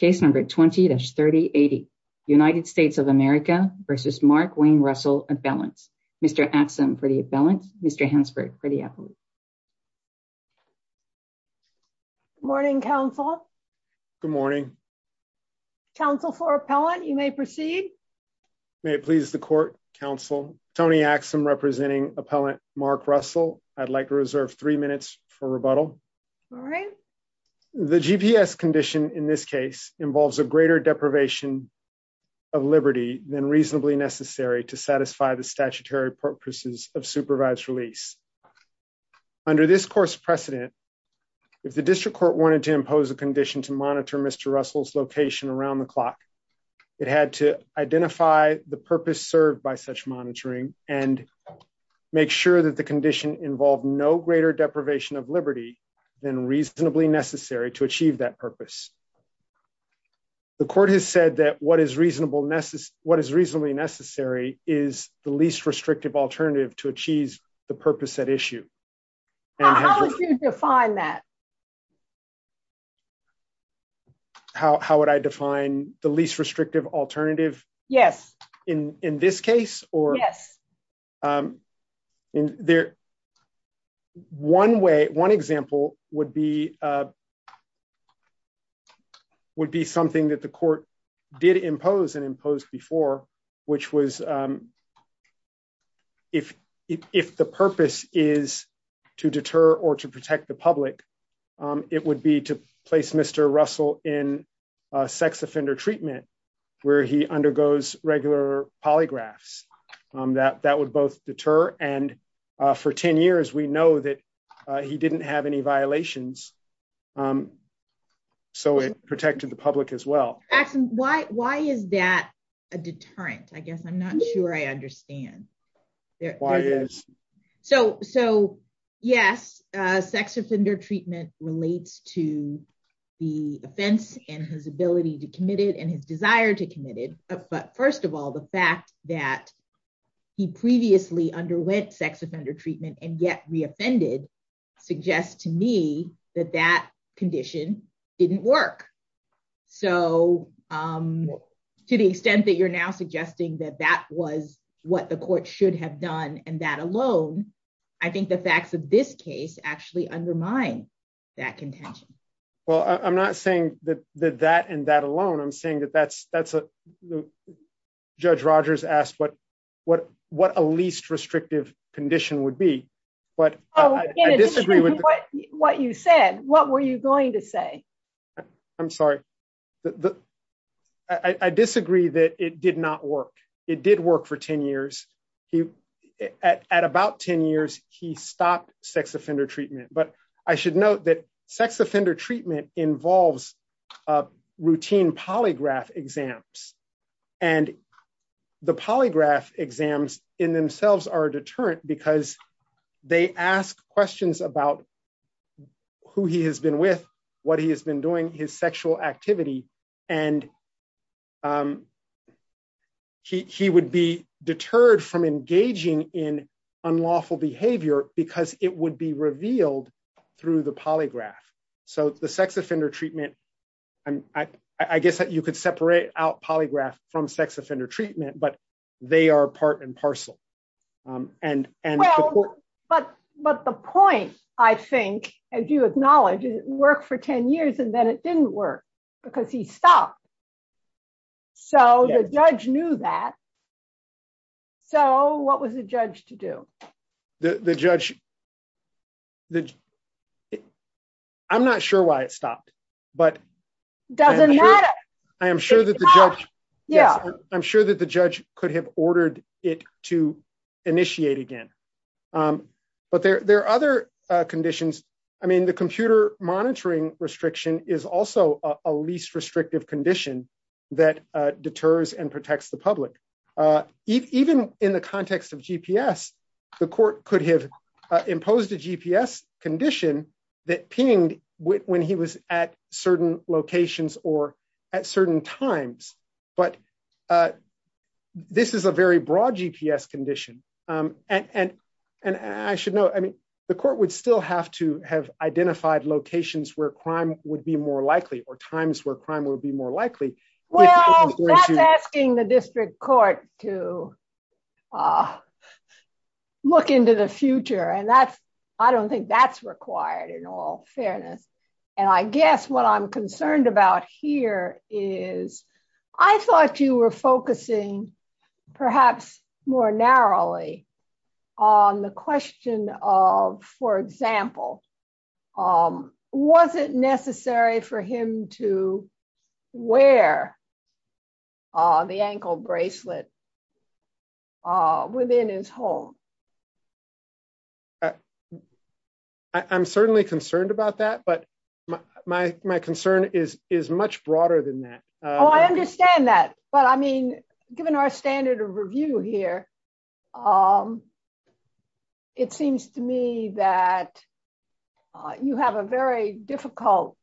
20-3080. United States of America v. Mark Wayne Russell, Appellant. Mr. Axum for the Appellant. Mr. Hansford for the Appellant. Good morning, Counsel. Good morning. Counsel for Appellant, you may proceed. May it please the Court, Counsel. Tony Axum representing Appellant Mark Russell. I'd like to reserve three minutes for rebuttal. All right. The GPS condition in this case involves a greater deprivation of liberty than reasonably necessary to satisfy the statutory purposes of supervised release. Under this Court's precedent, if the District Court wanted to impose a condition to monitor Mr. Russell's location around the clock, it had to identify the purpose served by such monitoring and make sure that the then reasonably necessary to achieve that purpose. The Court has said that what is reasonably necessary is the least restrictive alternative to achieve the purpose at issue. How would you define that? How would I define the least restrictive alternative? Yes. In this case? Yes. Yes. One way, one example would be something that the Court did impose and imposed before, which was if the purpose is to deter or to protect the public, it would be to place Mr. Russell in sex offender treatment where he undergoes regular polygraphs. That would both deter and for 10 years we know that he didn't have any violations, so it protected the public as well. Why is that a deterrent? I guess I'm not sure I understand. Why is? So yes, sex offender treatment relates to the offense and his ability to commit it and his desire to commit it. But first of all, the fact that he previously underwent sex offender treatment and yet re-offended suggests to me that that condition didn't work. So to the extent that now suggesting that that was what the Court should have done and that alone, I think the facts of this case actually undermine that contention. Well, I'm not saying that that and that alone, I'm saying that that's, Judge Rogers asked what a least restrictive condition would be, but I disagree with. What you said, what were you going to say? I'm sorry. I disagree that it did not work. It did work for 10 years. At about 10 years, he stopped sex offender treatment, but I should note that sex offender treatment involves routine polygraph exams and the polygraph exams in themselves are a deterrent because they ask questions about who he has been with, what he has been doing, his sexual activity, and he would be deterred from engaging in unlawful behavior because it would be revealed through the polygraph. So the sex offender treatment, I guess that you could separate out polygraph from sex offender treatment, but they are part and parcel. But the point, I think, as you acknowledge, it worked for 10 years and then it didn't work because he stopped. So the judge knew that. So what was the judge to do? I'm not sure why it stopped. Doesn't matter. I am sure that the judge could have ordered it to initiate again. But there are other conditions. I mean, the computer monitoring restriction is also a least restrictive condition that deters and protects the public. Even in the context of GPS, the court could have imposed a GPS condition that pinged when he was at certain locations or at certain times. But this is a very broad GPS condition. And I should note, I mean, the court would still have to have identified locations where crime would be more likely or times where crime would be more likely. Well, that's asking the district court to look into the future. And that's, I don't think that's required in all fairness. And I guess what I'm concerned about here is I thought you were focusing perhaps more narrowly on the question for example, was it necessary for him to wear the ankle bracelet within his home? I'm certainly concerned about that, but my concern is much broader than that. Oh, I understand that. But I mean, given our standard of review here, it seems to me that you have a very difficult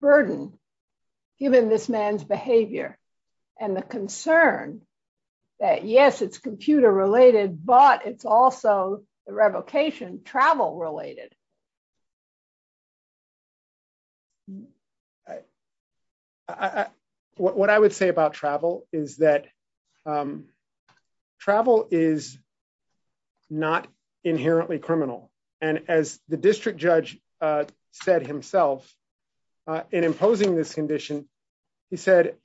burden given this man's behavior and the concern that yes, it's computer related, but it's also the revocation travel related. I, what I would say about travel is that travel is not inherently criminal. And as the district judge said himself in imposing this condition, he said,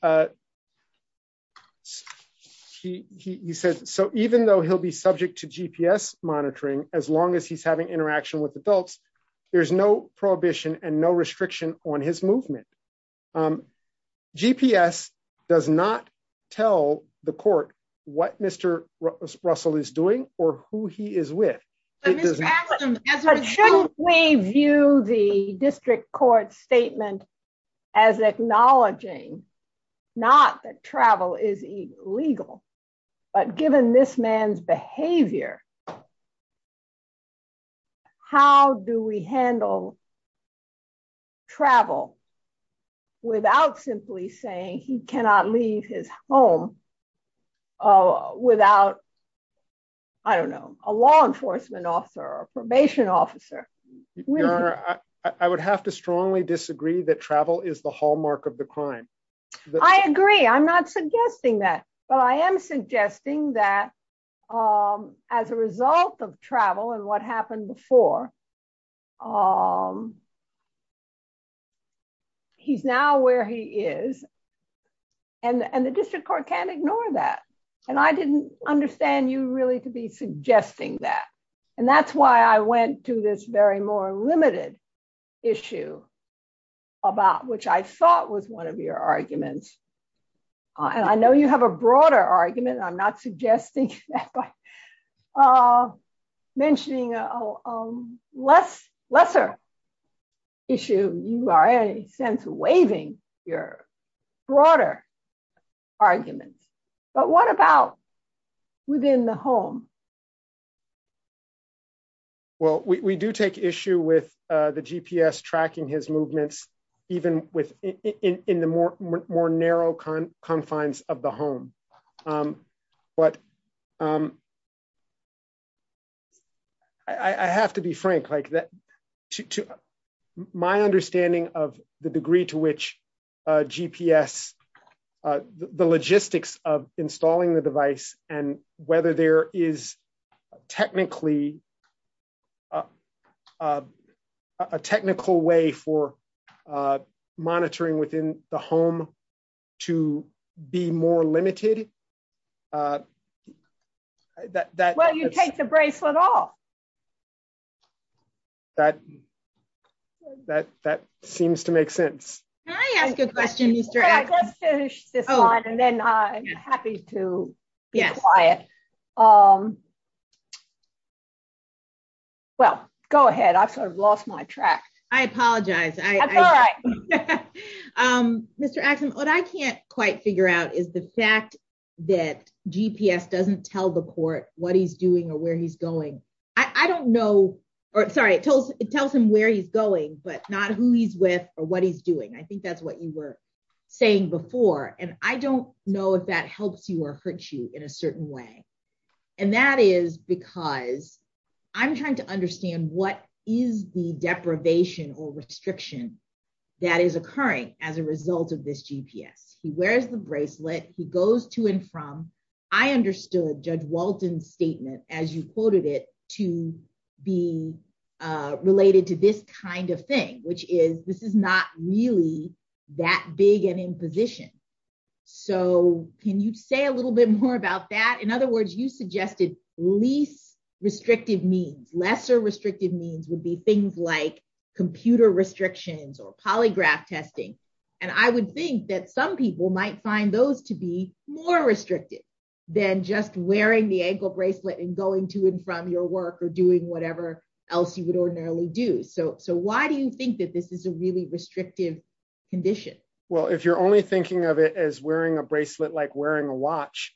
he said, so even though he'll be subject to GPS monitoring, as long as he's having interaction with adults, he's not going to be able to there's no prohibition and no restriction on his movement. GPS does not tell the court what Mr. Russell is doing or who he is with. Shouldn't we view the district court statement as acknowledging not that travel is illegal, but given this man's behavior, how do we handle travel without simply saying he cannot leave his home without, I don't know, a law enforcement officer or a probation officer? Your Honor, I would have to strongly disagree that travel is the hallmark of the crime. I agree. I'm not suggesting that, but I am suggesting that as a result of travel and what happened before he's now where he is and the district court can't ignore that. And I didn't understand you really to be suggesting that. And that's why I went to this very more limited issue about which I thought was one of your arguments. And I know you have a broader argument. I'm not suggesting that by mentioning a lesser issue. You are, in a sense, waiving your broader arguments. But what about within the home? Well, we do take issue with the GPS tracking his movements, even within the more narrow confines of the home. But I have to be frank. My understanding of the degree to which GPS, the logistics of installing the device, and whether there is technically a technical way for monitoring within the home to be more limited. Well, you take the bracelet off. That seems to make sense. Can I ask a question? And then I'm happy to be quiet. Well, go ahead. I've sort of lost my track. I apologize. Mr. Axum, what I can't quite figure out is the fact that GPS doesn't tell the court what he's doing or where he's going. I don't know. Sorry, it tells him where he's going, but not who he's with or what he's doing. I think that's what you were saying before. And I don't know if that helps you or hurts you in a certain way. And that is because I'm trying to understand what is the deprivation or restriction that is occurring as a result of this GPS. He wears the bracelet. He goes to and from. I understood Judge Walton's statement, as you quoted it, to be related to this kind of thing, which is this is not really that big an imposition. So can you say a little bit more about that? In other words, you suggested least restrictive means. Lesser restrictive means would be things like computer restrictions or polygraph testing. And I would think that some people might find those to be more restrictive than just wearing the ankle bracelet and going to and from your work or doing whatever else you would ordinarily do. So why do you think that this is a really restrictive condition? Well, if you're only thinking of it as wearing a bracelet like wearing a watch,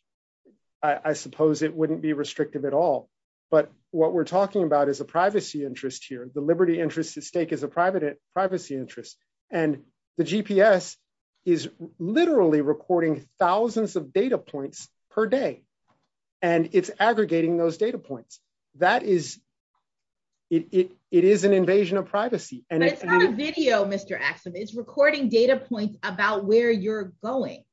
I suppose it wouldn't be restrictive at all. But what we're talking about is a privacy interest here. The liberty interest at stake is a privacy interest. And the GPS is literally recording thousands of data points per day. And it's aggregating those data points. That is it. It is an invasion of privacy. And it's not a video, Mr. Axum. It's recording data points about where you're going.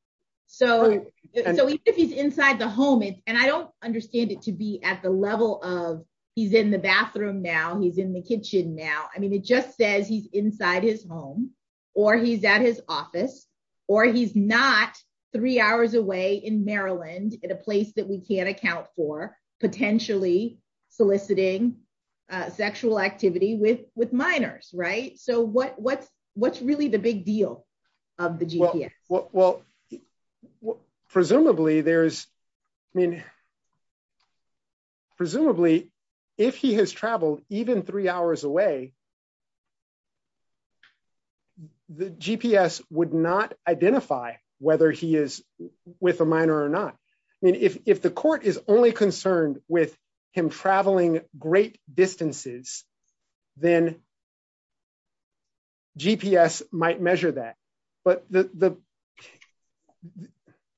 So if he's inside the home and I don't understand it to be at the level of he's in the bathroom now, he's in the kitchen now. I mean, it just says he's inside his home or he's at his office or he's not three hours away in Maryland in a place that we can't account for potentially soliciting sexual activity with with minors. Right. So what what's what's really the big deal of the GPS? Well, presumably there's I mean, presumably, if he has traveled even three hours away. The GPS would not identify whether he is with a minor or not. I mean, if the court is only concerned with him traveling great distances, then. GPS might measure that, but the.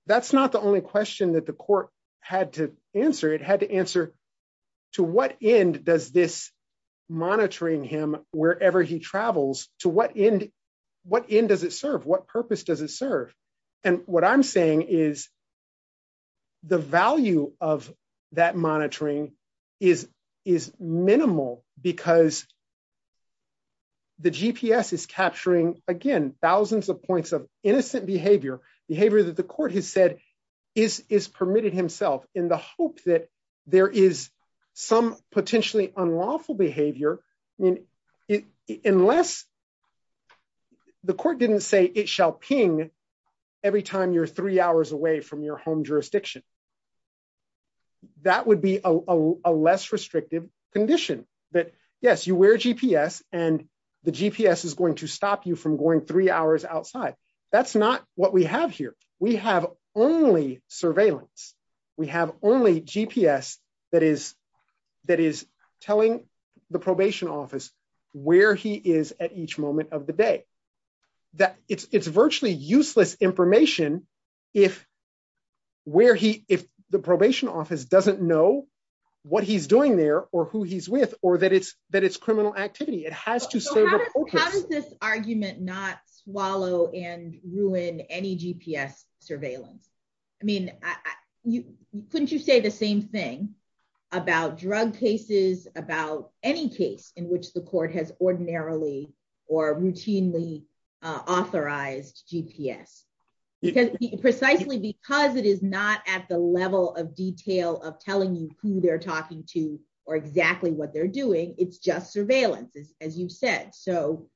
That's not the only question that the court had to answer. It monitoring him wherever he travels to what end what end does it serve? What purpose does it serve? And what I'm saying is. The value of that monitoring is is minimal because. The GPS is capturing, again, thousands of points of innocent behavior behavior that the court has is is permitted himself in the hope that there is some potentially unlawful behavior. I mean, unless. The court didn't say it shall ping every time you're three hours away from your home jurisdiction. That would be a less restrictive condition that, yes, you wear GPS and the GPS is going to stop you from going three hours outside. That's not what we have here. We have only surveillance. We have only GPS that is that is telling the probation office where he is at each moment of the day. That it's it's virtually useless information if. Where he if the probation office doesn't know what he's doing there or who he's with or that it's that it's criminal activity, it has to say. How does this argument not swallow and ruin any GPS surveillance? I mean, you couldn't you say the same thing about drug cases, about any case in which the court has ordinarily or routinely authorized GPS because precisely because it is not at the level of detail of telling you who they're talking to or exactly what they're doing. It's just surveillance, as you said. So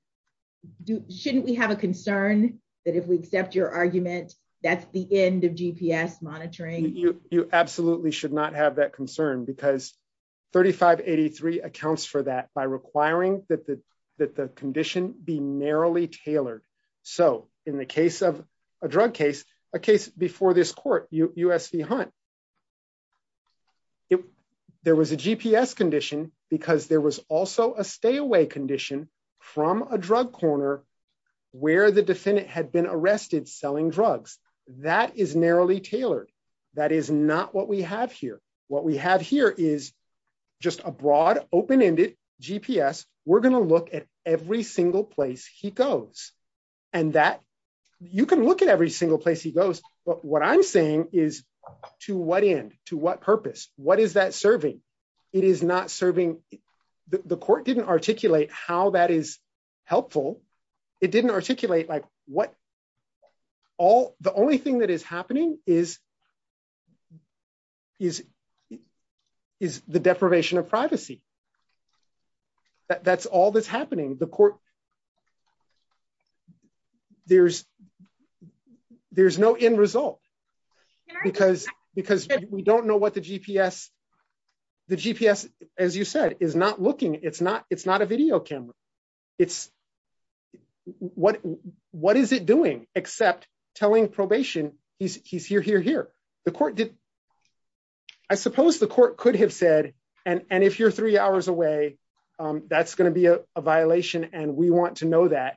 shouldn't we have a concern that if we accept your argument, that's the end of GPS monitoring? You absolutely should not have that concern because 3583 accounts for that by requiring that the that the condition be narrowly tailored. So in the case of a drug case, a case before this court, USC Hunt. There was a GPS condition because there was also a stay away condition from a drug corner where the defendant had been arrested selling drugs. That is narrowly tailored. That is not what we have here. What we have here is just a broad, open ended GPS. We're going to look at every single place he goes and that you can look at every single place he goes. But what I'm saying is to what end, to what purpose? What is that serving? It is not serving. The court didn't articulate how that is helpful. It didn't articulate like what all the only thing that is happening is is is the deprivation of privacy. That's all that's happening. The court. There's there's no end result because because we don't know what the GPS, the GPS, as you said, is not looking. It's not it's not a video camera. It's what what is it doing except telling probation he's he's here, here, here. The court did. I suppose the court could have said and if you're three hours away, that's going to be a violation. And we want to know that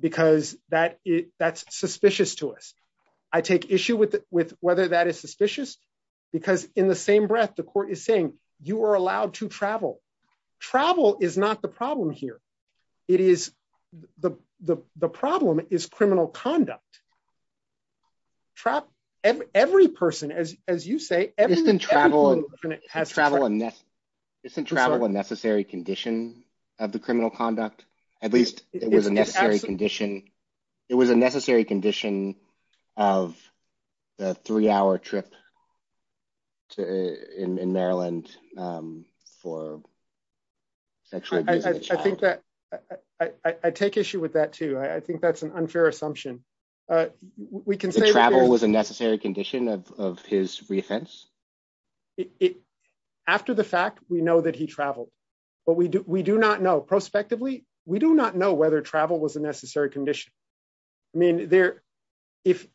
because that that's suspicious to us. I take issue with with whether that is suspicious, because in the same breath, the court is saying you are allowed to travel. Travel is not the problem here. It is the the the problem is criminal conduct. Trap every person, as as you say, everything travel has travel and travel a necessary condition of the criminal conduct. At least it was a necessary condition. It was a necessary condition of the three hour trip to in Maryland for sexual. I think that I take issue with that, too. I think that's an unfair assumption. We can say travel was a necessary condition of his reoffense. It after the fact, we know that he traveled, but we do not know. Prospectively, we do not know whether travel was a necessary condition. I mean, there if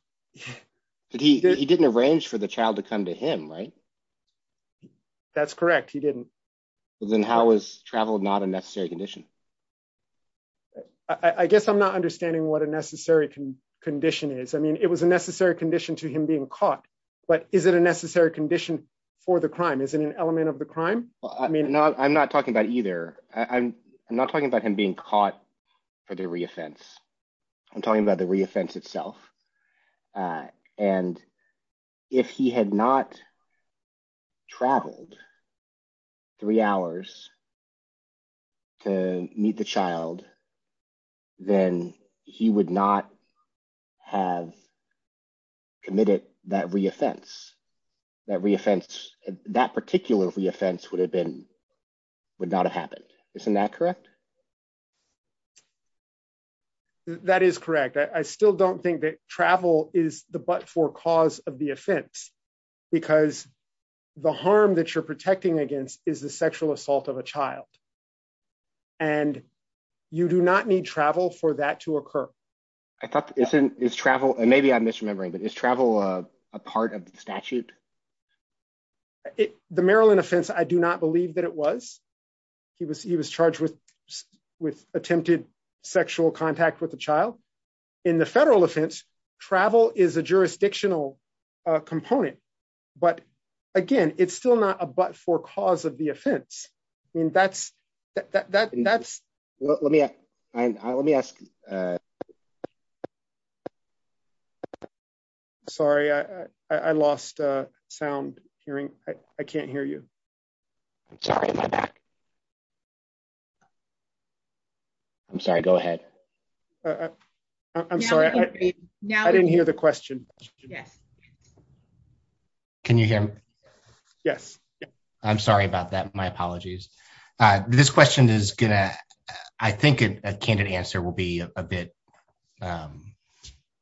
he didn't arrange for the child to come to him, right? That's correct. He didn't. Then how is travel not a necessary condition? I guess I'm not understanding what a necessary condition is. I mean, it was a necessary condition for the crime, isn't an element of the crime. I mean, I'm not talking about either. I'm not talking about him being caught for the reoffense. I'm talking about the reoffense itself. And if he had not. Traveled. Three hours. To meet the child. Then he would not have committed that reoffense. That particular reoffense would not have happened. Isn't that correct? That is correct. I still don't think that travel is the but for cause of the offense. Because the harm that you're protecting against is the sexual assault of a child. And you do not need travel for that to occur. I thought it's travel. And maybe I'm misremembering, but it's travel a part of the statute. The Maryland offense, I do not believe that it was. He was he was charged with with attempted sexual contact with a child. In the federal offense, travel is a jurisdictional component. But again, it's still not a but for cause of the offense. I mean, that's, that's, let me, let me ask. Sorry, I lost sound hearing. I can't hear you. I'm sorry. I'm sorry. Go ahead. I'm sorry. Now I didn't hear the question. Yes. Can you hear me? Yes. I'm sorry about that. My apologies. This question is gonna I think a candid answer will be a bit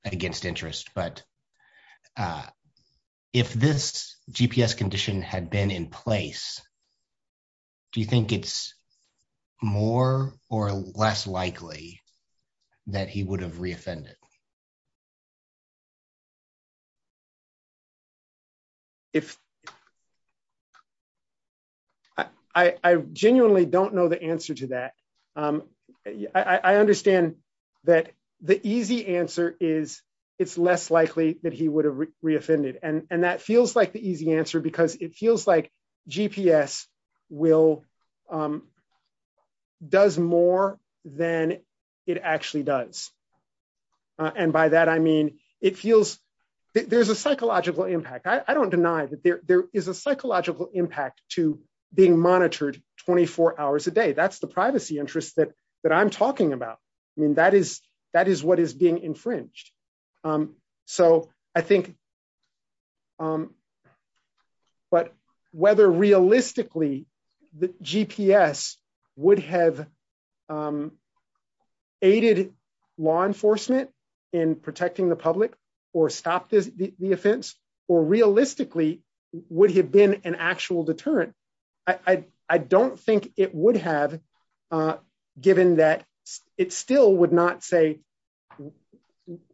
against interest. But if this GPS condition had been in place, do you think it's more or less likely that he would have reoffended? If I genuinely don't know the answer to that. I understand that the easy answer is, it's less likely that he would have reoffended. And that feels like the easy answer because it feels like GPS will does more than it actually does. And by that, I mean, it feels there's a psychological impact, I don't deny that there is a psychological impact to being monitored 24 hours a day. That's the privacy interest that that I'm talking about. I mean, that is, that is what is being infringed. So I think but whether realistically, the GPS would have aided law enforcement in protecting the public, or stop the offense, or realistically, would he have been an actual deterrent? I don't think it would have given that it still would not say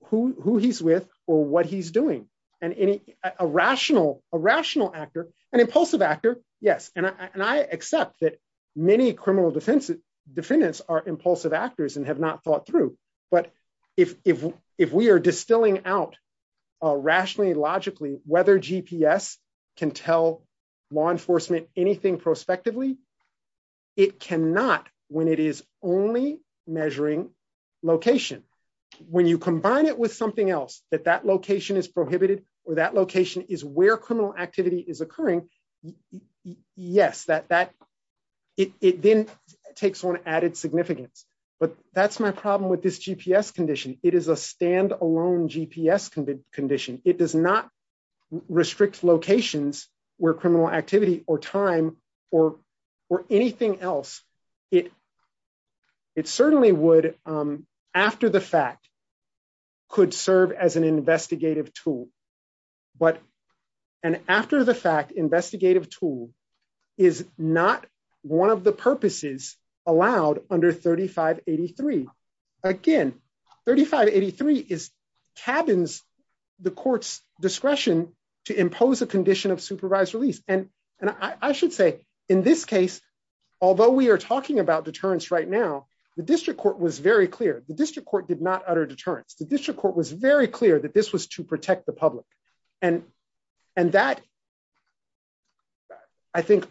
who he's with, or what he's doing. And any rational, a rational actor, an impulsive actor. Yes. And I accept that many criminal defense defendants are impulsive actors and have not thought through. But if we are distilling out rationally, logically, whether GPS can tell law enforcement anything prospectively, it cannot when it is only measuring location. When you combine it with something else that that location is prohibited, or that location is where criminal activity is occurring. Yes, that that it then takes on added significance. But that's my problem with this GPS condition. It is a standalone GPS condition. It does not restrict locations where criminal activity or time or, or anything else. It it certainly would, after the fact, could serve as an investigative tool. But an after the fact investigative tool is not one of the purposes allowed under 3583. Again, 3583 is cabins, the court's discretion to impose a condition of supervised release. And, and I should say, in this case, although we are talking about deterrence right now, the district court was very clear, the district court did not utter deterrence, the district court was very clear that this was to protect the public. And, and that I think,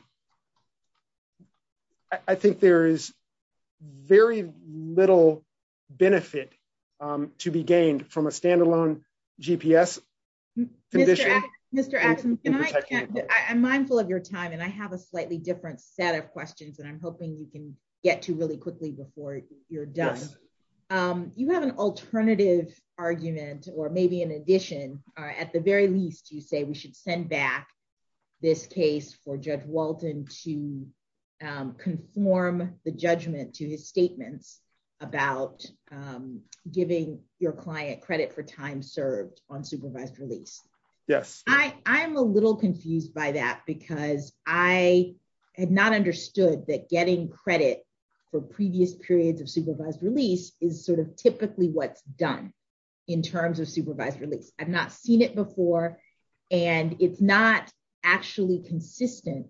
I think there is very little benefit to be gained from a standalone GPS condition. I'm mindful of your time. And I have a slightly different set of questions. And I'm hoping you can get to really quickly before you're done. You have an alternative argument, or maybe an addition, at the very least, you say we should send back this case for Judge Walton to conform the judgment to his statements about giving your client credit for time served on supervised release. Yes, I am a little confused by that, because I had not understood that getting credit for previous periods of supervised release is sort of typically what's done in terms of supervised release. I've not seen it before. And it's not actually consistent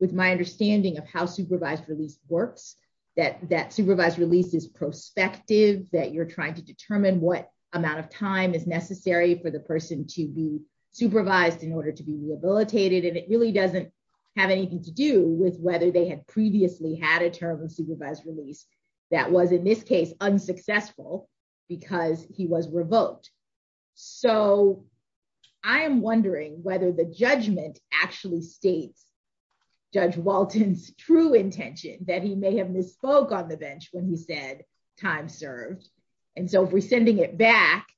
with my understanding of how supervised release works, that that supervised release is prospective, that you're trying to determine what amount of time is necessary for the person to be supervised in order to be rehabilitated. And it really doesn't have anything to do with whether they had previously a term of supervised release that was, in this case, unsuccessful, because he was revoked. So I am wondering whether the judgment actually states Judge Walton's true intention that he may have misspoke on the bench when he said time served. And so if we're sending it back,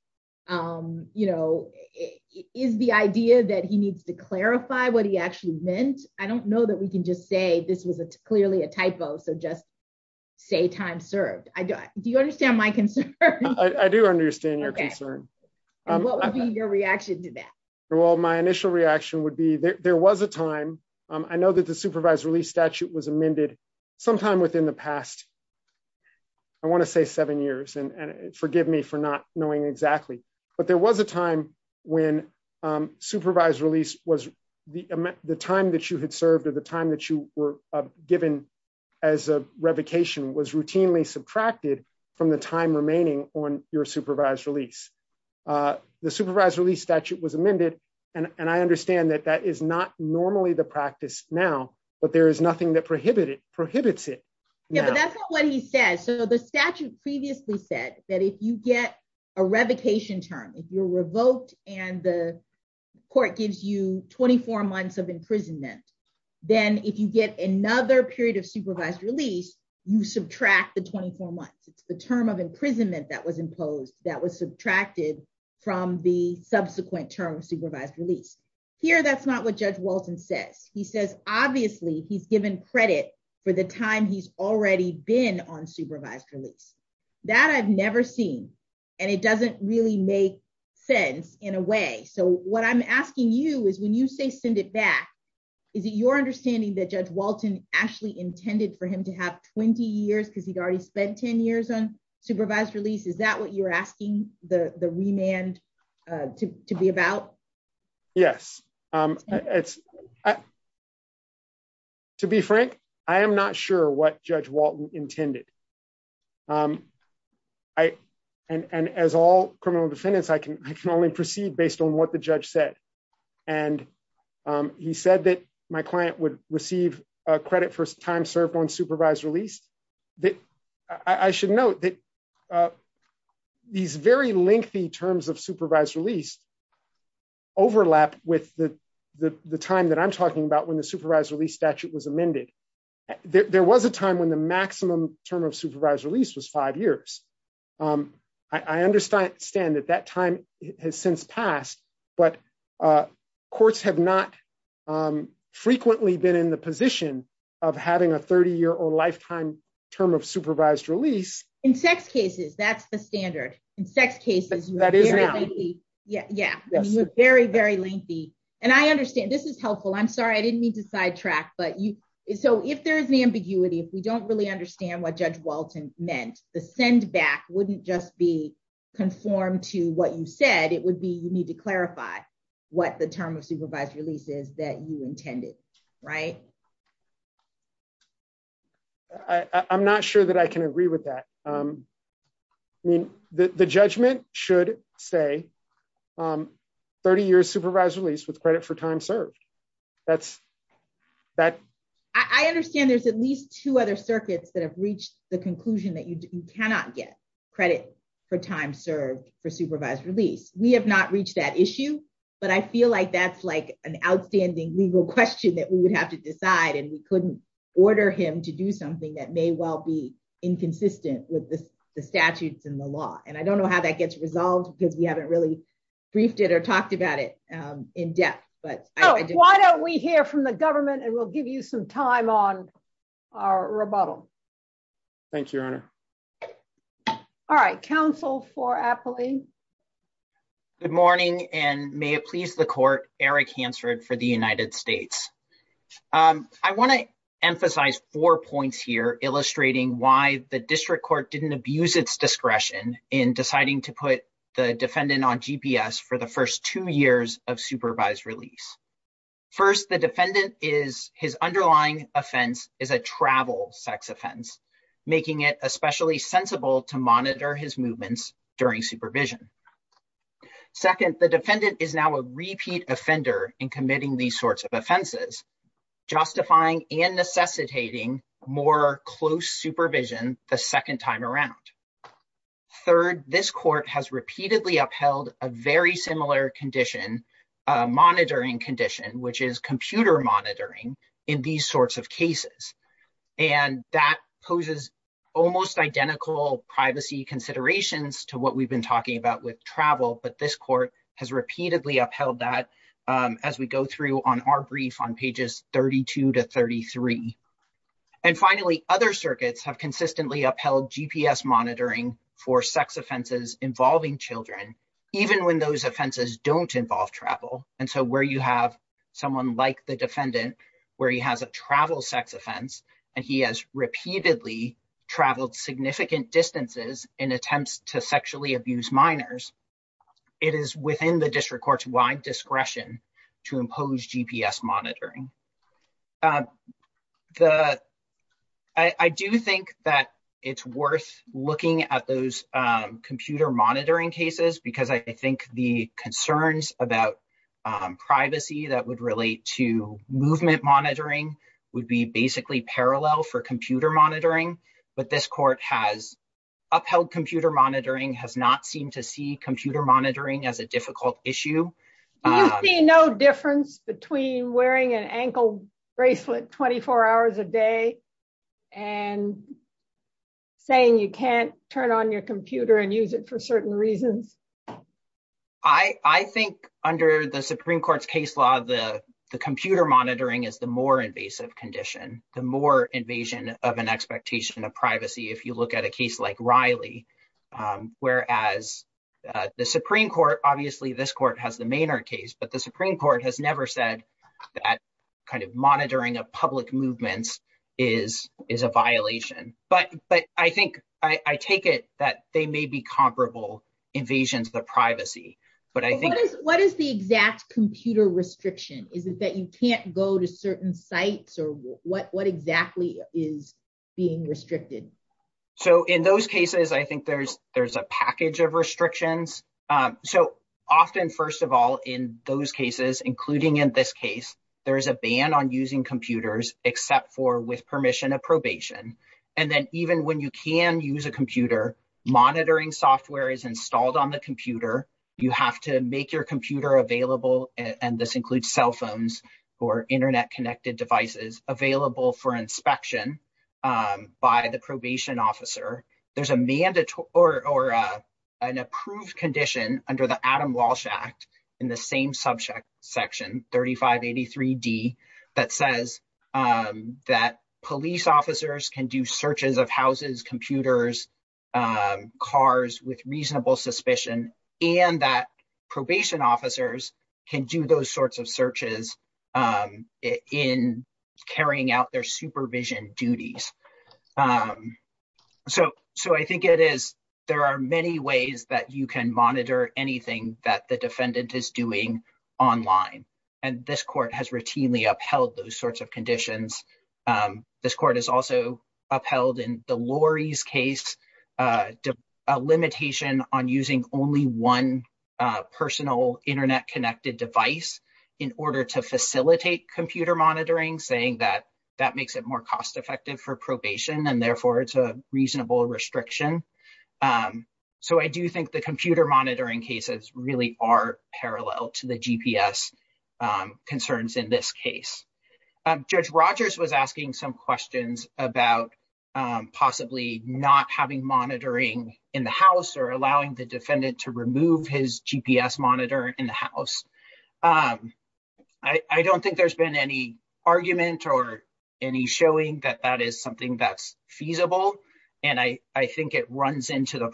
is the idea that he needs to clarify what he actually meant? I don't know that we can just say this was clearly a typo. So just say time served. Do you understand my concern? I do understand your concern. What would be your reaction to that? Well, my initial reaction would be there was a time, I know that the supervised release statute was amended sometime within the past, I want to say seven years, and forgive me for not knowing exactly. But there was a time when supervised release was the time that you had served at the time that you were given as a revocation was routinely subtracted from the time remaining on your supervised release. The supervised release statute was amended. And I understand that that is not normally the practice now. But there is nothing that prohibited prohibits it. Yeah, but that's not what he and the court gives you 24 months of imprisonment. Then if you get another period of supervised release, you subtract the 24 months, it's the term of imprisonment that was imposed that was subtracted from the subsequent term supervised release. Here. That's not what Judge Walton says. He says, obviously, he's given credit for the time he's already been on supervised release that I've never seen. And it doesn't really make sense in a way. So what I'm asking you is when you say send it back? Is it your understanding that Judge Walton actually intended for him to have 20 years because he'd already spent 10 years on supervised release? Is that what you're asking the remand to be about? Yes. It's I. To be frank, I am not sure what Judge Walton intended. I and as all criminal defendants, I can only proceed based on what the judge said. And he said that my client would receive credit for time served on supervised release that I that I'm talking about when the supervised release statute was amended. There was a time when the maximum term of supervised release was five years. I understand that that time has since passed, but courts have not frequently been in the position of having a 30 year or lifetime term of supervised release in sex cases. That's the standard. In sex cases. That is. Yeah. Yeah. Very, very lengthy. And I understand this is helpful. I'm sorry. I didn't mean to sidetrack. But you so if there is an ambiguity, if we don't really understand what Judge Walton meant, the send back wouldn't just be conformed to what you said. It would be you need to clarify what the term of supervised release is that you intended. Right. I'm not sure that I can agree with that. I mean, the judgment should say 30 years supervised release with credit for time served. That's that. I understand there's at least two other circuits that have reached the conclusion that you cannot get credit for time served for supervised release. We have not reached that issue. But I feel like that's like an outstanding legal question that we would have to decide. And we couldn't order him to do something that may well be inconsistent with the statutes in the law. And I don't know how that gets resolved because we haven't really briefed it or talked about it in depth. But why don't we hear from the government and we'll give you some time on our rebuttal. Thank you, Your Honor. All right, counsel for I want to emphasize four points here illustrating why the district court didn't abuse its discretion in deciding to put the defendant on GPS for the first two years of supervised release. First, the defendant is his underlying offense is a travel sex offense, making it especially sensible to monitor his movements during supervision. Second, the defendant is now a repeat offender in committing these sorts of offenses, justifying and necessitating more close supervision the second time around. Third, this court has repeatedly upheld a very similar condition, monitoring condition, which is computer monitoring in these sorts of cases. And that poses almost identical privacy considerations to what we've been talking about with travel. But this court has repeatedly upheld that as we go through on our brief on pages 32 to 33. And finally, other circuits have consistently upheld GPS monitoring for sex offenses involving children, even when those offenses don't involve travel. And so where you have someone like the defendant, where he has a travel sex offense, and he has repeatedly traveled significant distances in the district court's wide discretion to impose GPS monitoring. I do think that it's worth looking at those computer monitoring cases, because I think the concerns about privacy that would relate to movement monitoring would be basically parallel for computer monitoring. But this court has upheld computer monitoring has not seemed to see computer monitoring as difficult issue. No difference between wearing an ankle bracelet 24 hours a day and saying you can't turn on your computer and use it for certain reasons. I think under the Supreme Court's case law, the computer monitoring is the more invasive condition, the more invasion of an expectation of privacy. If you look at a case like Riley, whereas the Supreme Court, obviously this court has the Maynard case, but the Supreme Court has never said that kind of monitoring of public movements is a violation. But I think I take it that they may be comparable invasions of the privacy. But I think- What is the exact computer restriction? Is it that you can't go to certain sites or what exactly is being restricted? So in those cases, I think there's a package of restrictions. So often, first of all, in those cases, including in this case, there is a ban on using computers except for with permission of probation. And then even when you can use a computer, monitoring software is installed on the computer. You have to make your computer available, and this includes cell phones or cell phones that are available for inspection by the probation officer. There's a mandatory or an approved condition under the Adam Walsh Act in the same subject section, 3583D, that says that police officers can do searches of houses, computers, cars with reasonable suspicion, and that probation officers can do those sorts of searches in carrying out their supervision duties. So I think there are many ways that you can monitor anything that the defendant is doing online. And this court has routinely upheld those sorts of conditions. This court has also upheld in Delores' case a limitation on using only one personal internet-connected device in order to facilitate computer monitoring, saying that that makes it more cost-effective for probation, and therefore it's a reasonable restriction. So I do think the computer monitoring cases really are parallel to the GPS concerns in this case. Judge Rogers was asking some questions about possibly not having monitoring in the house or allowing the defendant to remove his GPS monitor in the house. I don't think there's been any argument or any showing that that is something that's feasible, and I think it runs into the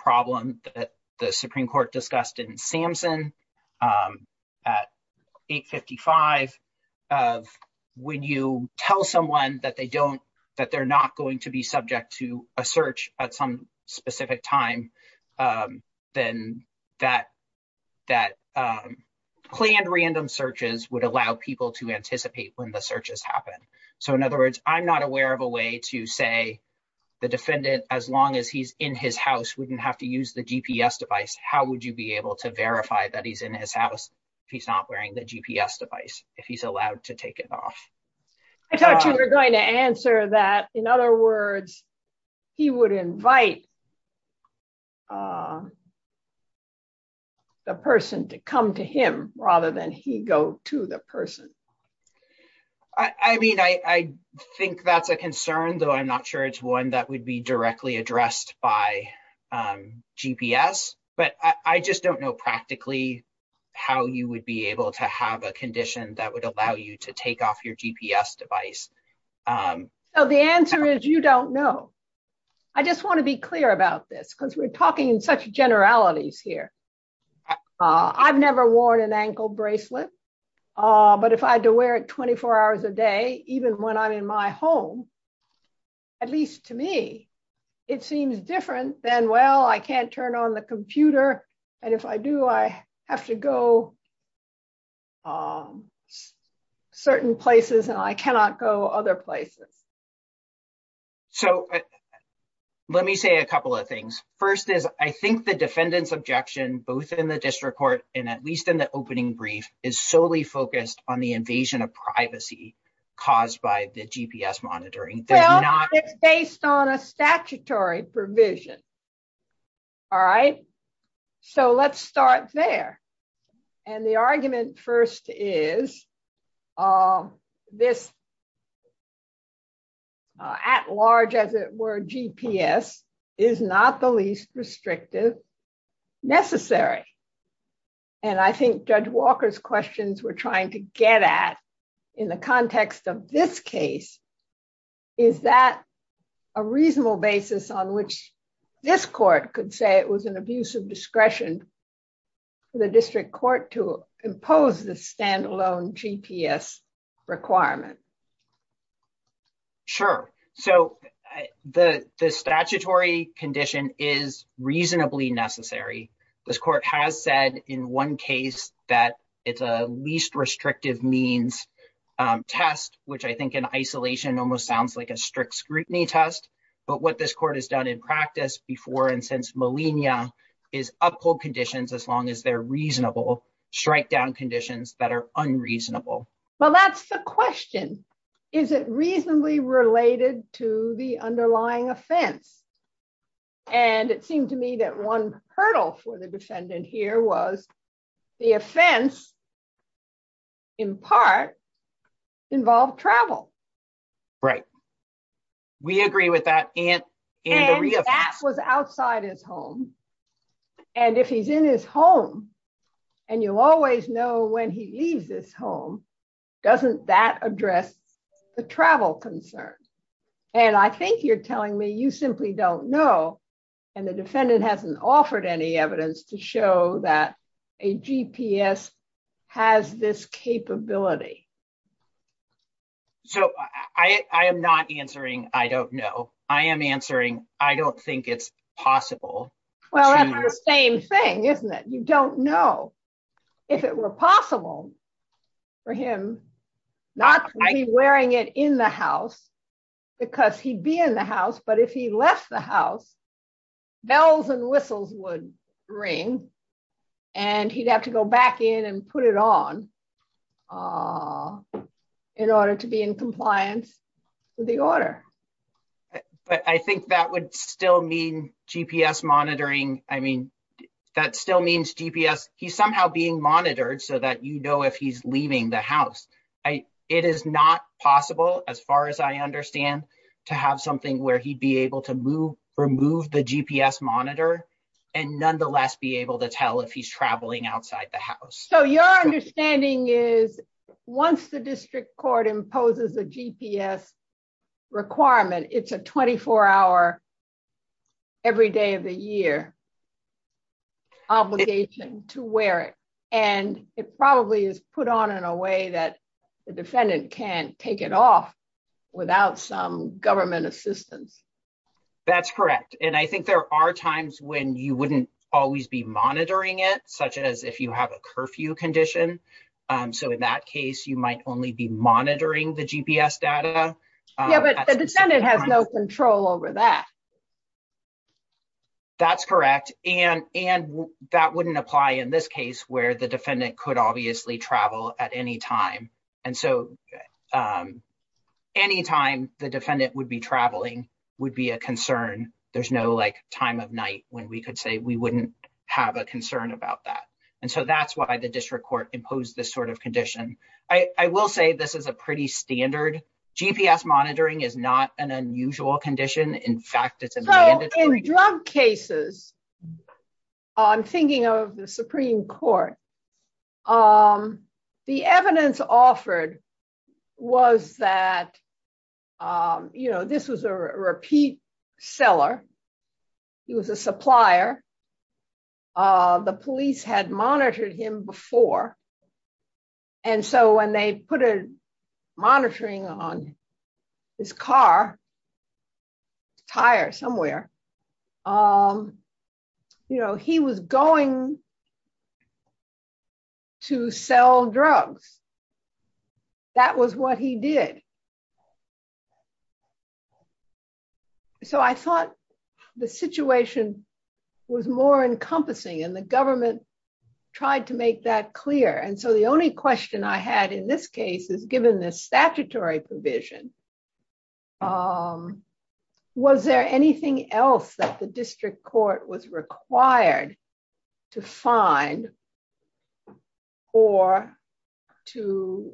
when you tell someone that they're not going to be subject to a search at some specific time, then that planned random searches would allow people to anticipate when the searches happen. So in other words, I'm not aware of a way to say the defendant, as long as he's in his house, wouldn't have to use the GPS device. How would you be able to verify that he's in his house if he's not wearing the GPS device, if he's allowed to take it off? I thought you were going to answer that. In other words, he would invite the person to come to him rather than he go to the person. I mean, I think that's a concern, though I'm not sure it's one that would be directly addressed by GPS, but I just don't know practically how you would be able to have a condition that would allow you to take off your GPS device. So the answer is you don't know. I just want to be clear about this because we're talking in such generalities here. I've never worn an ankle bracelet, but if I had to wear it 24 hours a day, even when I'm in my home, at least to me, it seems different than, well, I can't turn on the computer, and if I do, I have to go certain places and I cannot go other places. So let me say a couple of things. First is I think the defendant's objection, both in the district court and at least in the opening brief, is solely focused on the invasion of privacy caused by the GPS monitoring. Well, it's based on a statutory provision, all right? So let's start there. And the argument first is this, at large, as it were, GPS is not the least restrictive necessary. And I think Judge in the context of this case, is that a reasonable basis on which this court could say it was an abuse of discretion for the district court to impose the standalone GPS requirement? Sure. So the statutory condition is reasonably necessary. This court has said in one case that it's a least restrictive means test, which I think in isolation almost sounds like a strict scrutiny test. But what this court has done in practice before and since millennia is uphold conditions as long as they're reasonable, strike down conditions that are unreasonable. Well, that's the question. Is it reasonably related to the underlying offense? And it seemed to me that one hurdle for the defendant here was the offense, in part, involved travel. Right. We agree with that. And that was outside his home. And if he's in his home, and you always know when he leaves his home, doesn't that address the travel concern? And I think you're telling me you simply don't know. And the defendant hasn't offered any evidence to show that a GPS has this capability. So I am not answering. I don't know. I am answering. I don't think it's possible. Well, that's the same thing, isn't it? You don't know if it were possible for him not wearing it in the house because he'd be in the house. But if he left the house, bells and whistles would ring and he'd have to go back in and put it on in order to be in compliance with the order. But I think that would still mean GPS monitoring. I mean, that still means GPS. He's somehow being monitored so that you know if he's leaving the it is not possible, as far as I understand, to have something where he'd be able to move, remove the GPS monitor and nonetheless be able to tell if he's traveling outside the house. So your understanding is once the district court imposes a GPS requirement, it's a 24 hour every day of the year obligation to wear it. And it probably is put on in a way that the defendant can't take it off without some government assistance. That's correct. And I think there are times when you wouldn't always be monitoring it, such as if you have a curfew condition. So in that case, you might only be monitoring it. That's correct. And that wouldn't apply in this case where the defendant could obviously travel at any time. And so any time the defendant would be traveling would be a concern. There's no like time of night when we could say we wouldn't have a concern about that. And so that's why the district court imposed this sort of condition. I will say this is a pretty standard GPS monitoring is not an unusual condition. In fact, it's a drug cases. I'm thinking of the Supreme Court. The evidence offered was that, you know, this was a repeat seller. He was a supplier. The police had monitored him before. And so when they put a monitoring on his car, tire somewhere, you know, he was going to sell drugs. That was what he did. So I thought the situation was more encompassing and the government tried to make that clear. And so the only question I had in this case is given this statutory provision. Was there anything else that the district court was required to find or to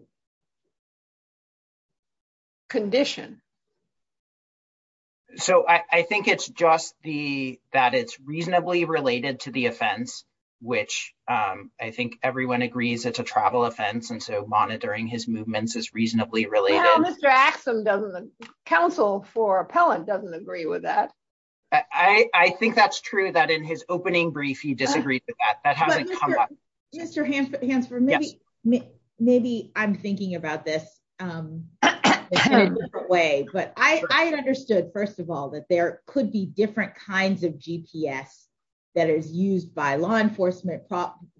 condition? So I think it's just the that it's reasonably related to the offense, which I think everyone agrees. It's a travel offense. And so monitoring his movements is reasonably related. Mr. Axsom doesn't the council for appellant doesn't agree with that. I think that's true that in his opening brief, you disagreed with that. That hasn't come up. Mr. Hansford, maybe I'm thinking about this way, but I understood, first of all, that there is used by law enforcement,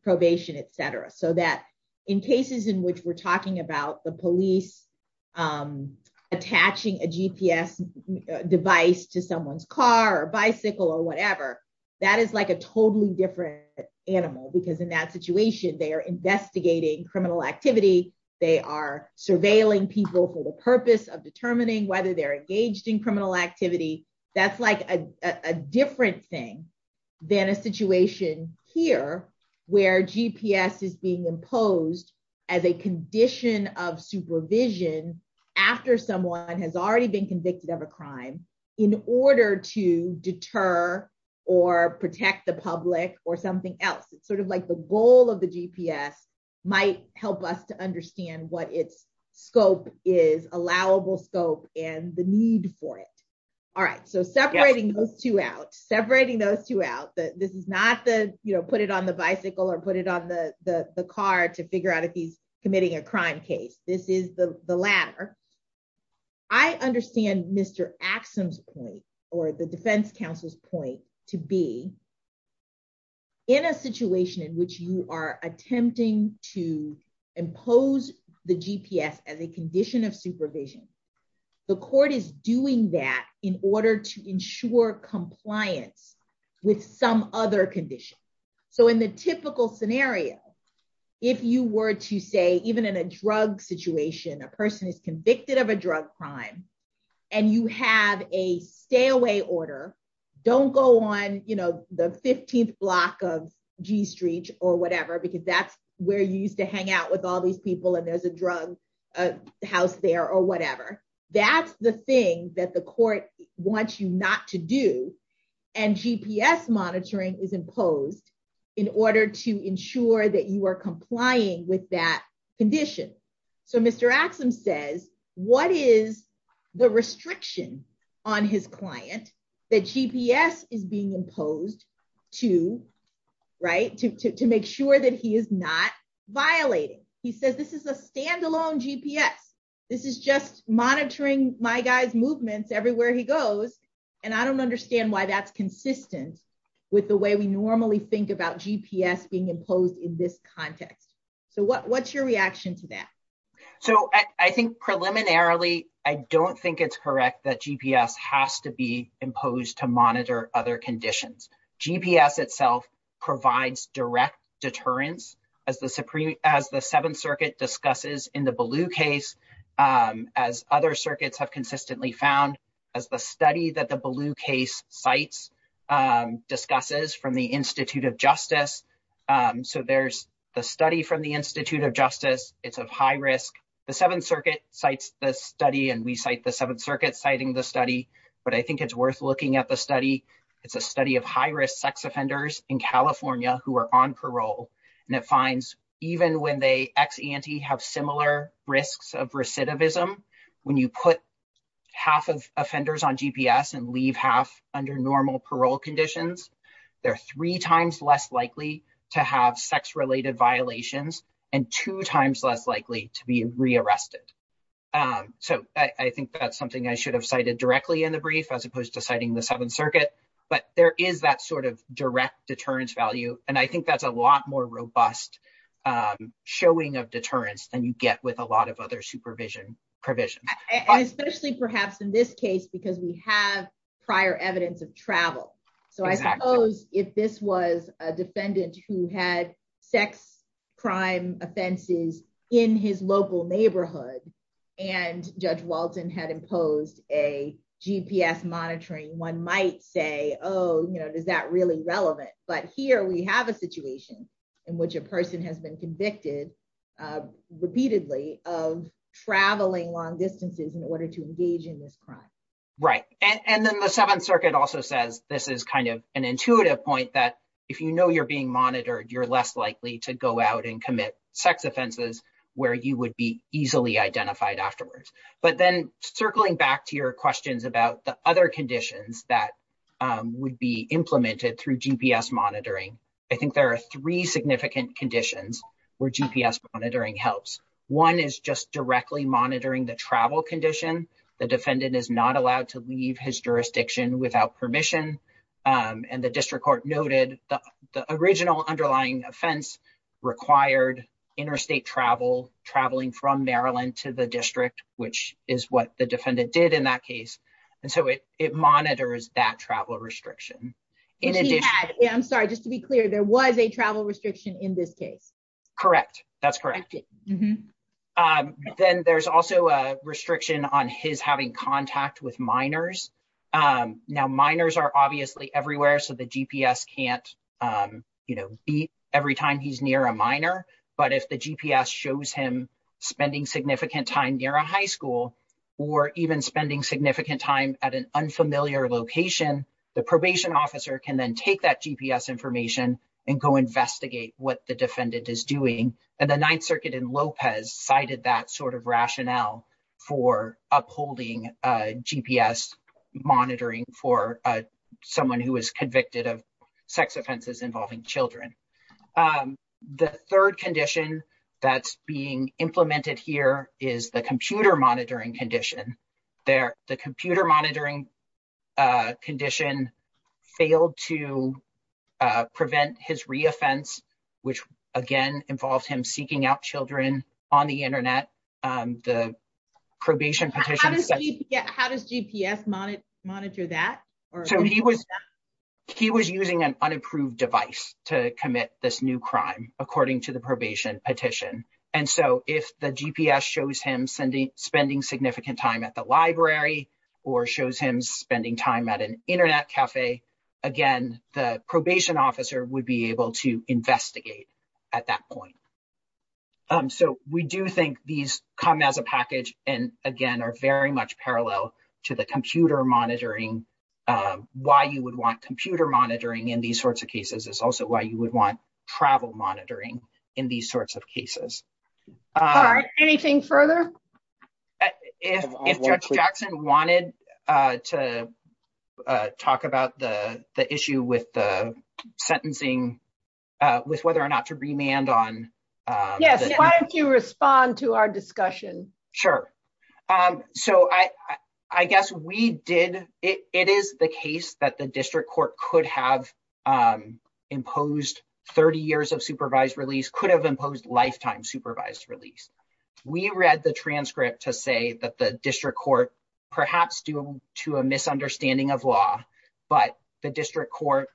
probation, et cetera, so that in cases in which we're talking about the police attaching a GPS device to someone's car or bicycle or whatever, that is like a totally different animal, because in that situation, they are investigating criminal activity. They are surveilling people for the purpose of determining whether they're engaged in criminal than a situation here, where GPS is being imposed as a condition of supervision, after someone has already been convicted of a crime in order to deter or protect the public or something else. It's sort of like the goal of the GPS might help us to understand what its scope is allowable scope and the need for it. All right, so separating those two out, separating those two out that this is not the, you know, put it on the bicycle or put it on the car to figure out if he's committing a crime case. This is the latter. I understand Mr. Axsom's point or the defense counsel's point to be in a situation in which you are attempting to supervision. The court is doing that in order to ensure compliance with some other condition. So in the typical scenario, if you were to say even in a drug situation, a person is convicted of a drug crime, and you have a stay away order, don't go on, you know, the 15th block of G Street or whatever, because that's where you used to hang out with all these people, there's a drug house there or whatever. That's the thing that the court wants you not to do. And GPS monitoring is imposed in order to ensure that you are complying with that condition. So Mr. Axsom says, what is the restriction on his client that GPS is being imposed to, right, to make sure that he is not violating? He says this is a standalone GPS. This is just monitoring my guy's movements everywhere he goes. And I don't understand why that's consistent with the way we normally think about GPS being imposed in this context. So what's your reaction to that? So I think preliminarily, I don't think it's correct that GPS has to be imposed to monitor other conditions. GPS itself provides direct deterrence, as the Seventh Circuit discusses in the Ballou case, as other circuits have consistently found, as the study that the Ballou case cites, discusses from the Institute of Justice. So there's the study from the Institute of Justice, it's of high risk. The Seventh Circuit cites the study, and we cite the Seventh Circuit citing the study, but I think it's worth looking at the study. It's a study of high-risk sex offenders in California who are on parole, and it finds even when they ex-ante have similar risks of recidivism, when you put half of offenders on GPS and leave half under normal parole conditions, they're three times less likely to have sex-related violations and two times less to be re-arrested. So I think that's something I should have cited directly in the brief as opposed to citing the Seventh Circuit, but there is that sort of direct deterrence value, and I think that's a lot more robust showing of deterrence than you get with a lot of other supervision provisions. And especially perhaps in this case, because we have prior evidence of travel. So I suppose if this was a defendant who had sex crime offenses in his local neighborhood, and Judge Walton had imposed a GPS monitoring, one might say, oh, you know, is that really relevant? But here we have a situation in which a person has been convicted repeatedly of traveling long distances in order to engage in this crime. Right. And then the Seventh Circuit also says this is kind of an intuitive point that if you know you're being monitored, you're less likely to go out and commit sex offenses where you would be easily identified afterwards. But then circling back to your questions about the other conditions that would be implemented through GPS monitoring, I think there are three significant conditions where GPS monitoring helps. One is just directly monitoring the travel condition. The defendant is not allowed to leave his jurisdiction without permission. And the district court noted the original underlying offense required interstate travel, traveling from Maryland to the district, which is what the defendant did in that case. And so it monitors that travel restriction. I'm sorry, just to be clear, there was a travel restriction in this case. Correct. That's correct. Then there's also a restriction on his having contact with minors. Now, minors are obviously everywhere. So the GPS can't beat every time he's near a minor. But if the GPS shows him spending significant time near a high school or even spending significant time at an unfamiliar location, the probation officer can then take that GPS information and go investigate what the defendant is doing. And the Ninth Circuit in Lopez cited that sort of rationale for upholding GPS monitoring for someone who was convicted of sex offenses involving children. The third condition that's being implemented here is the computer monitoring condition. The computer monitoring condition failed to be implemented. The probation petition. How does GPS monitor that? He was using an unapproved device to commit this new crime, according to the probation petition. And so if the GPS shows him spending significant time at the library or shows him spending time at an internet cafe, again, the probation officer would be able to investigate at that point. So we do think these come as a package and, again, are very much parallel to the computer monitoring. Why you would want computer monitoring in these sorts of cases is also why you would want travel monitoring in these sorts of cases. Anything further? If Judge Jackson wanted to talk about the issue with the sentencing, with whether or not to remand on. Yes. Why don't you respond to our discussion? Sure. So I guess we did. It is the case that the district court could have imposed 30 years of supervised release, could have imposed lifetime supervised release. We read the transcript to say that the district court, perhaps due to a misunderstanding of law, but the district court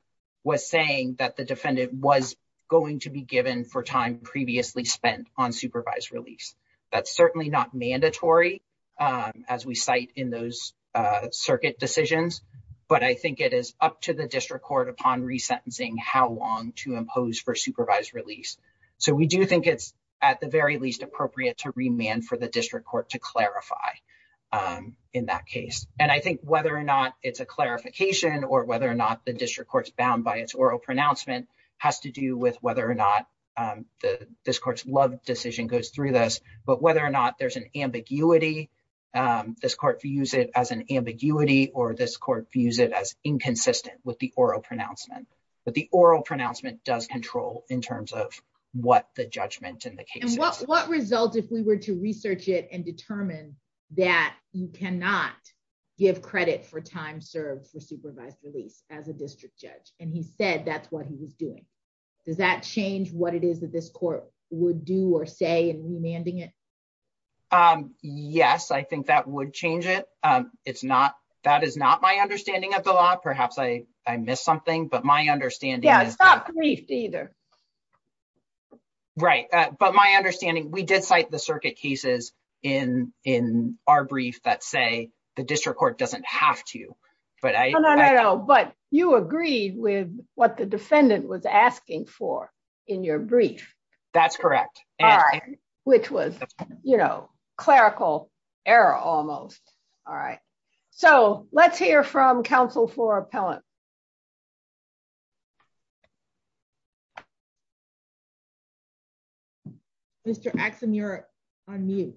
was saying that the defendant was going to be given for time previously spent on supervised release. That's certainly not mandatory, as we cite in those circuit decisions, but I think it is up to the district court upon resentencing how long to impose for supervised release. So we do think it's at the very least appropriate to remand for the district court to clarify in that case. And I think whether or not it's a clarification or whether or not the district court's bound by its oral pronouncement has to do with whether or not this court's love decision goes through this, but whether or not there's an ambiguity, this court views it as an ambiguity or this court views it as inconsistent with the oral pronouncement. But the oral pronouncement does control in terms of what the judgment in the case is. And what results if we were to research it and determine that you cannot give credit for time served for supervised release as a district judge? And he said that's what he was doing. Does that change what it is that this court would do or say in remanding it? Yes, I think that would change it. That is not my understanding of the law. Perhaps I missed something, but my understanding is that. Yeah, it's not briefed either. Right. But my understanding, we did cite the circuit cases in our brief that say the district court doesn't have to. No, no, no, no. But you agreed with what the defendant was asking for in your brief. That's correct. All right. Which was, you know, clerical error almost. All right. So let's hear from counsel for appellate. Mr. Axon, you're on mute.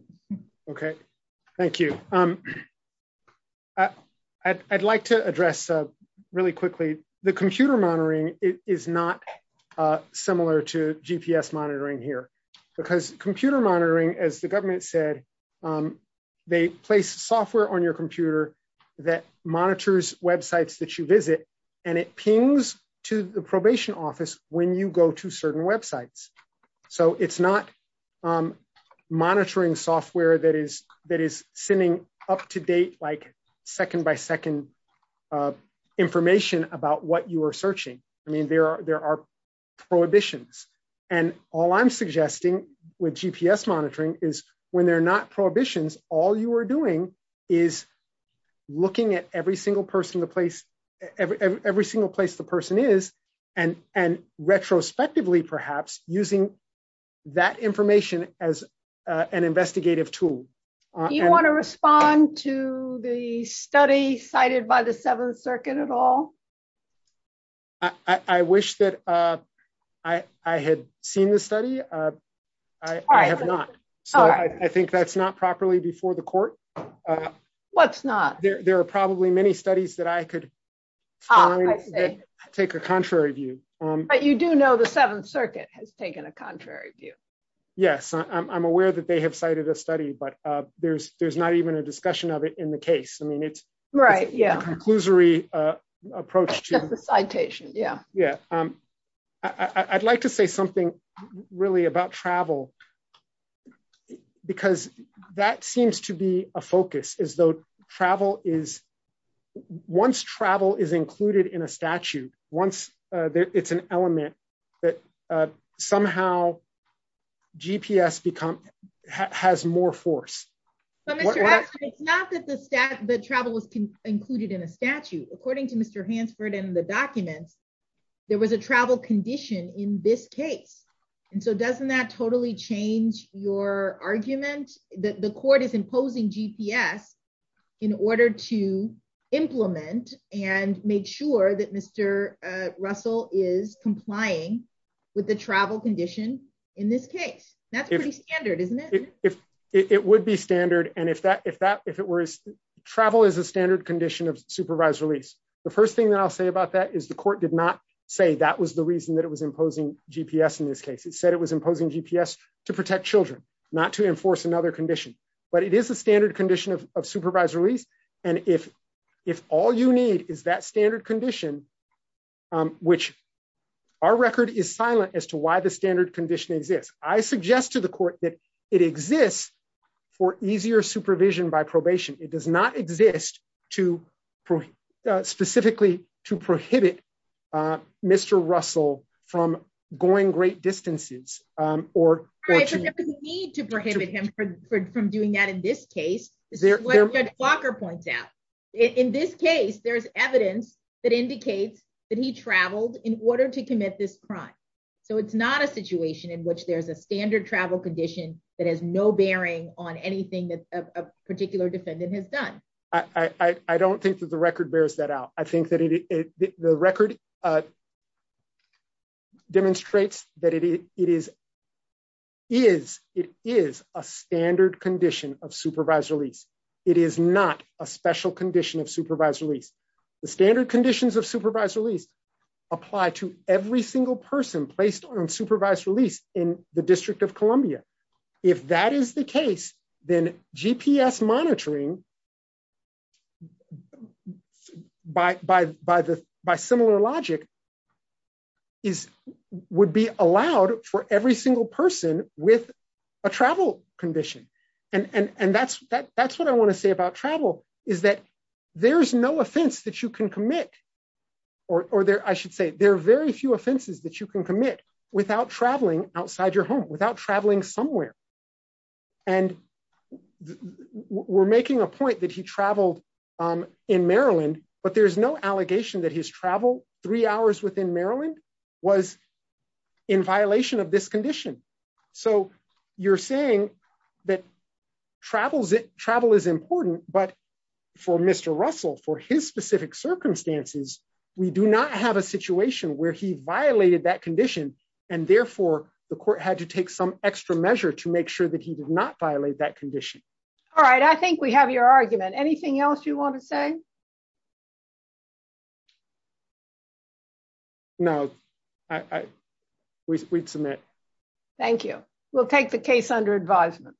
Okay. Thank you. I'd like to address really quickly. The computer monitoring is not similar to GPS monitoring here because computer monitoring, as the government said, they place software on your computer that monitors websites that you visit and it pings to the probation office when you go to certain websites. So it's not monitoring software that is sending up to date, like second by second information about what you are searching. I mean, there are prohibitions. And all I'm suggesting with GPS monitoring is when they're not prohibitions, all you are doing is looking at every single person, the place, every single place the person is and retrospectively, perhaps using that information as an investigative tool. You want to respond to the study cited by the seventh circuit at all? I wish that I had seen the study. I have not. I think that's not properly before the court. What's not? There are probably many studies that I could take a contrary view. But you do know the seventh circuit has taken a contrary view. Yes, I'm aware that they have cited a study, but there's right. Yeah. Conclusory approach to the citation. Yeah. Yeah. I'd like to say something really about travel, because that seems to be a focus as though travel is once travel is included in a statute, once it's an element that somehow GPS become has more force. So it's not that the staff that travel was included in a statute, according to Mr. Hansford and the documents, there was a travel condition in this case. And so doesn't that totally change your argument that the court is imposing GPS in order to implement and make sure that Mr. Russell is complying with the travel condition. In this case, that's pretty standard, isn't it? It would be standard. And if that, if it were travel is a standard condition of supervised release. The first thing that I'll say about that is the court did not say that was the reason that it was imposing GPS. In this case, it said it was imposing GPS to protect children, not to enforce another condition, but it is a standard condition of supervised release. And if all you need is that standard condition, which our record is silent as to why the standard condition exists. I suggest to the court that it exists for easier supervision by probation, it does not exist to specifically to prohibit Mr. Russell from going great distances, or need to prohibit him from doing that. In this case, Walker points out, in this case, there's evidence that indicates that he traveled in order to commit this crime. So it's not a condition that has no bearing on anything that a particular defendant has done. I don't think that the record bears that out. I think that the record demonstrates that it is is it is a standard condition of supervised release. It is not a special condition of supervised release. The standard conditions of supervised release apply to every single person placed on supervised release in the District of Columbia. If that is the case, then GPS monitoring by by by the by similar logic is would be allowed for every single person with a travel condition. And and that's that that's what I want to say about travel is that there's no offense that you can commit. Or there I should say there are very few offenses that you can commit without traveling outside your home without traveling somewhere. And we're making a point that he traveled in Maryland, but there's no allegation that his travel three hours within Maryland was in violation of this condition. So you're saying that travels it for Mr. Russell for his specific circumstances, we do not have a situation where he violated that condition. And therefore, the court had to take some extra measure to make sure that he did not violate that condition. All right, I think we have your argument. Anything else you want to say? No, I we submit. Thank you. We'll take the case under advisement.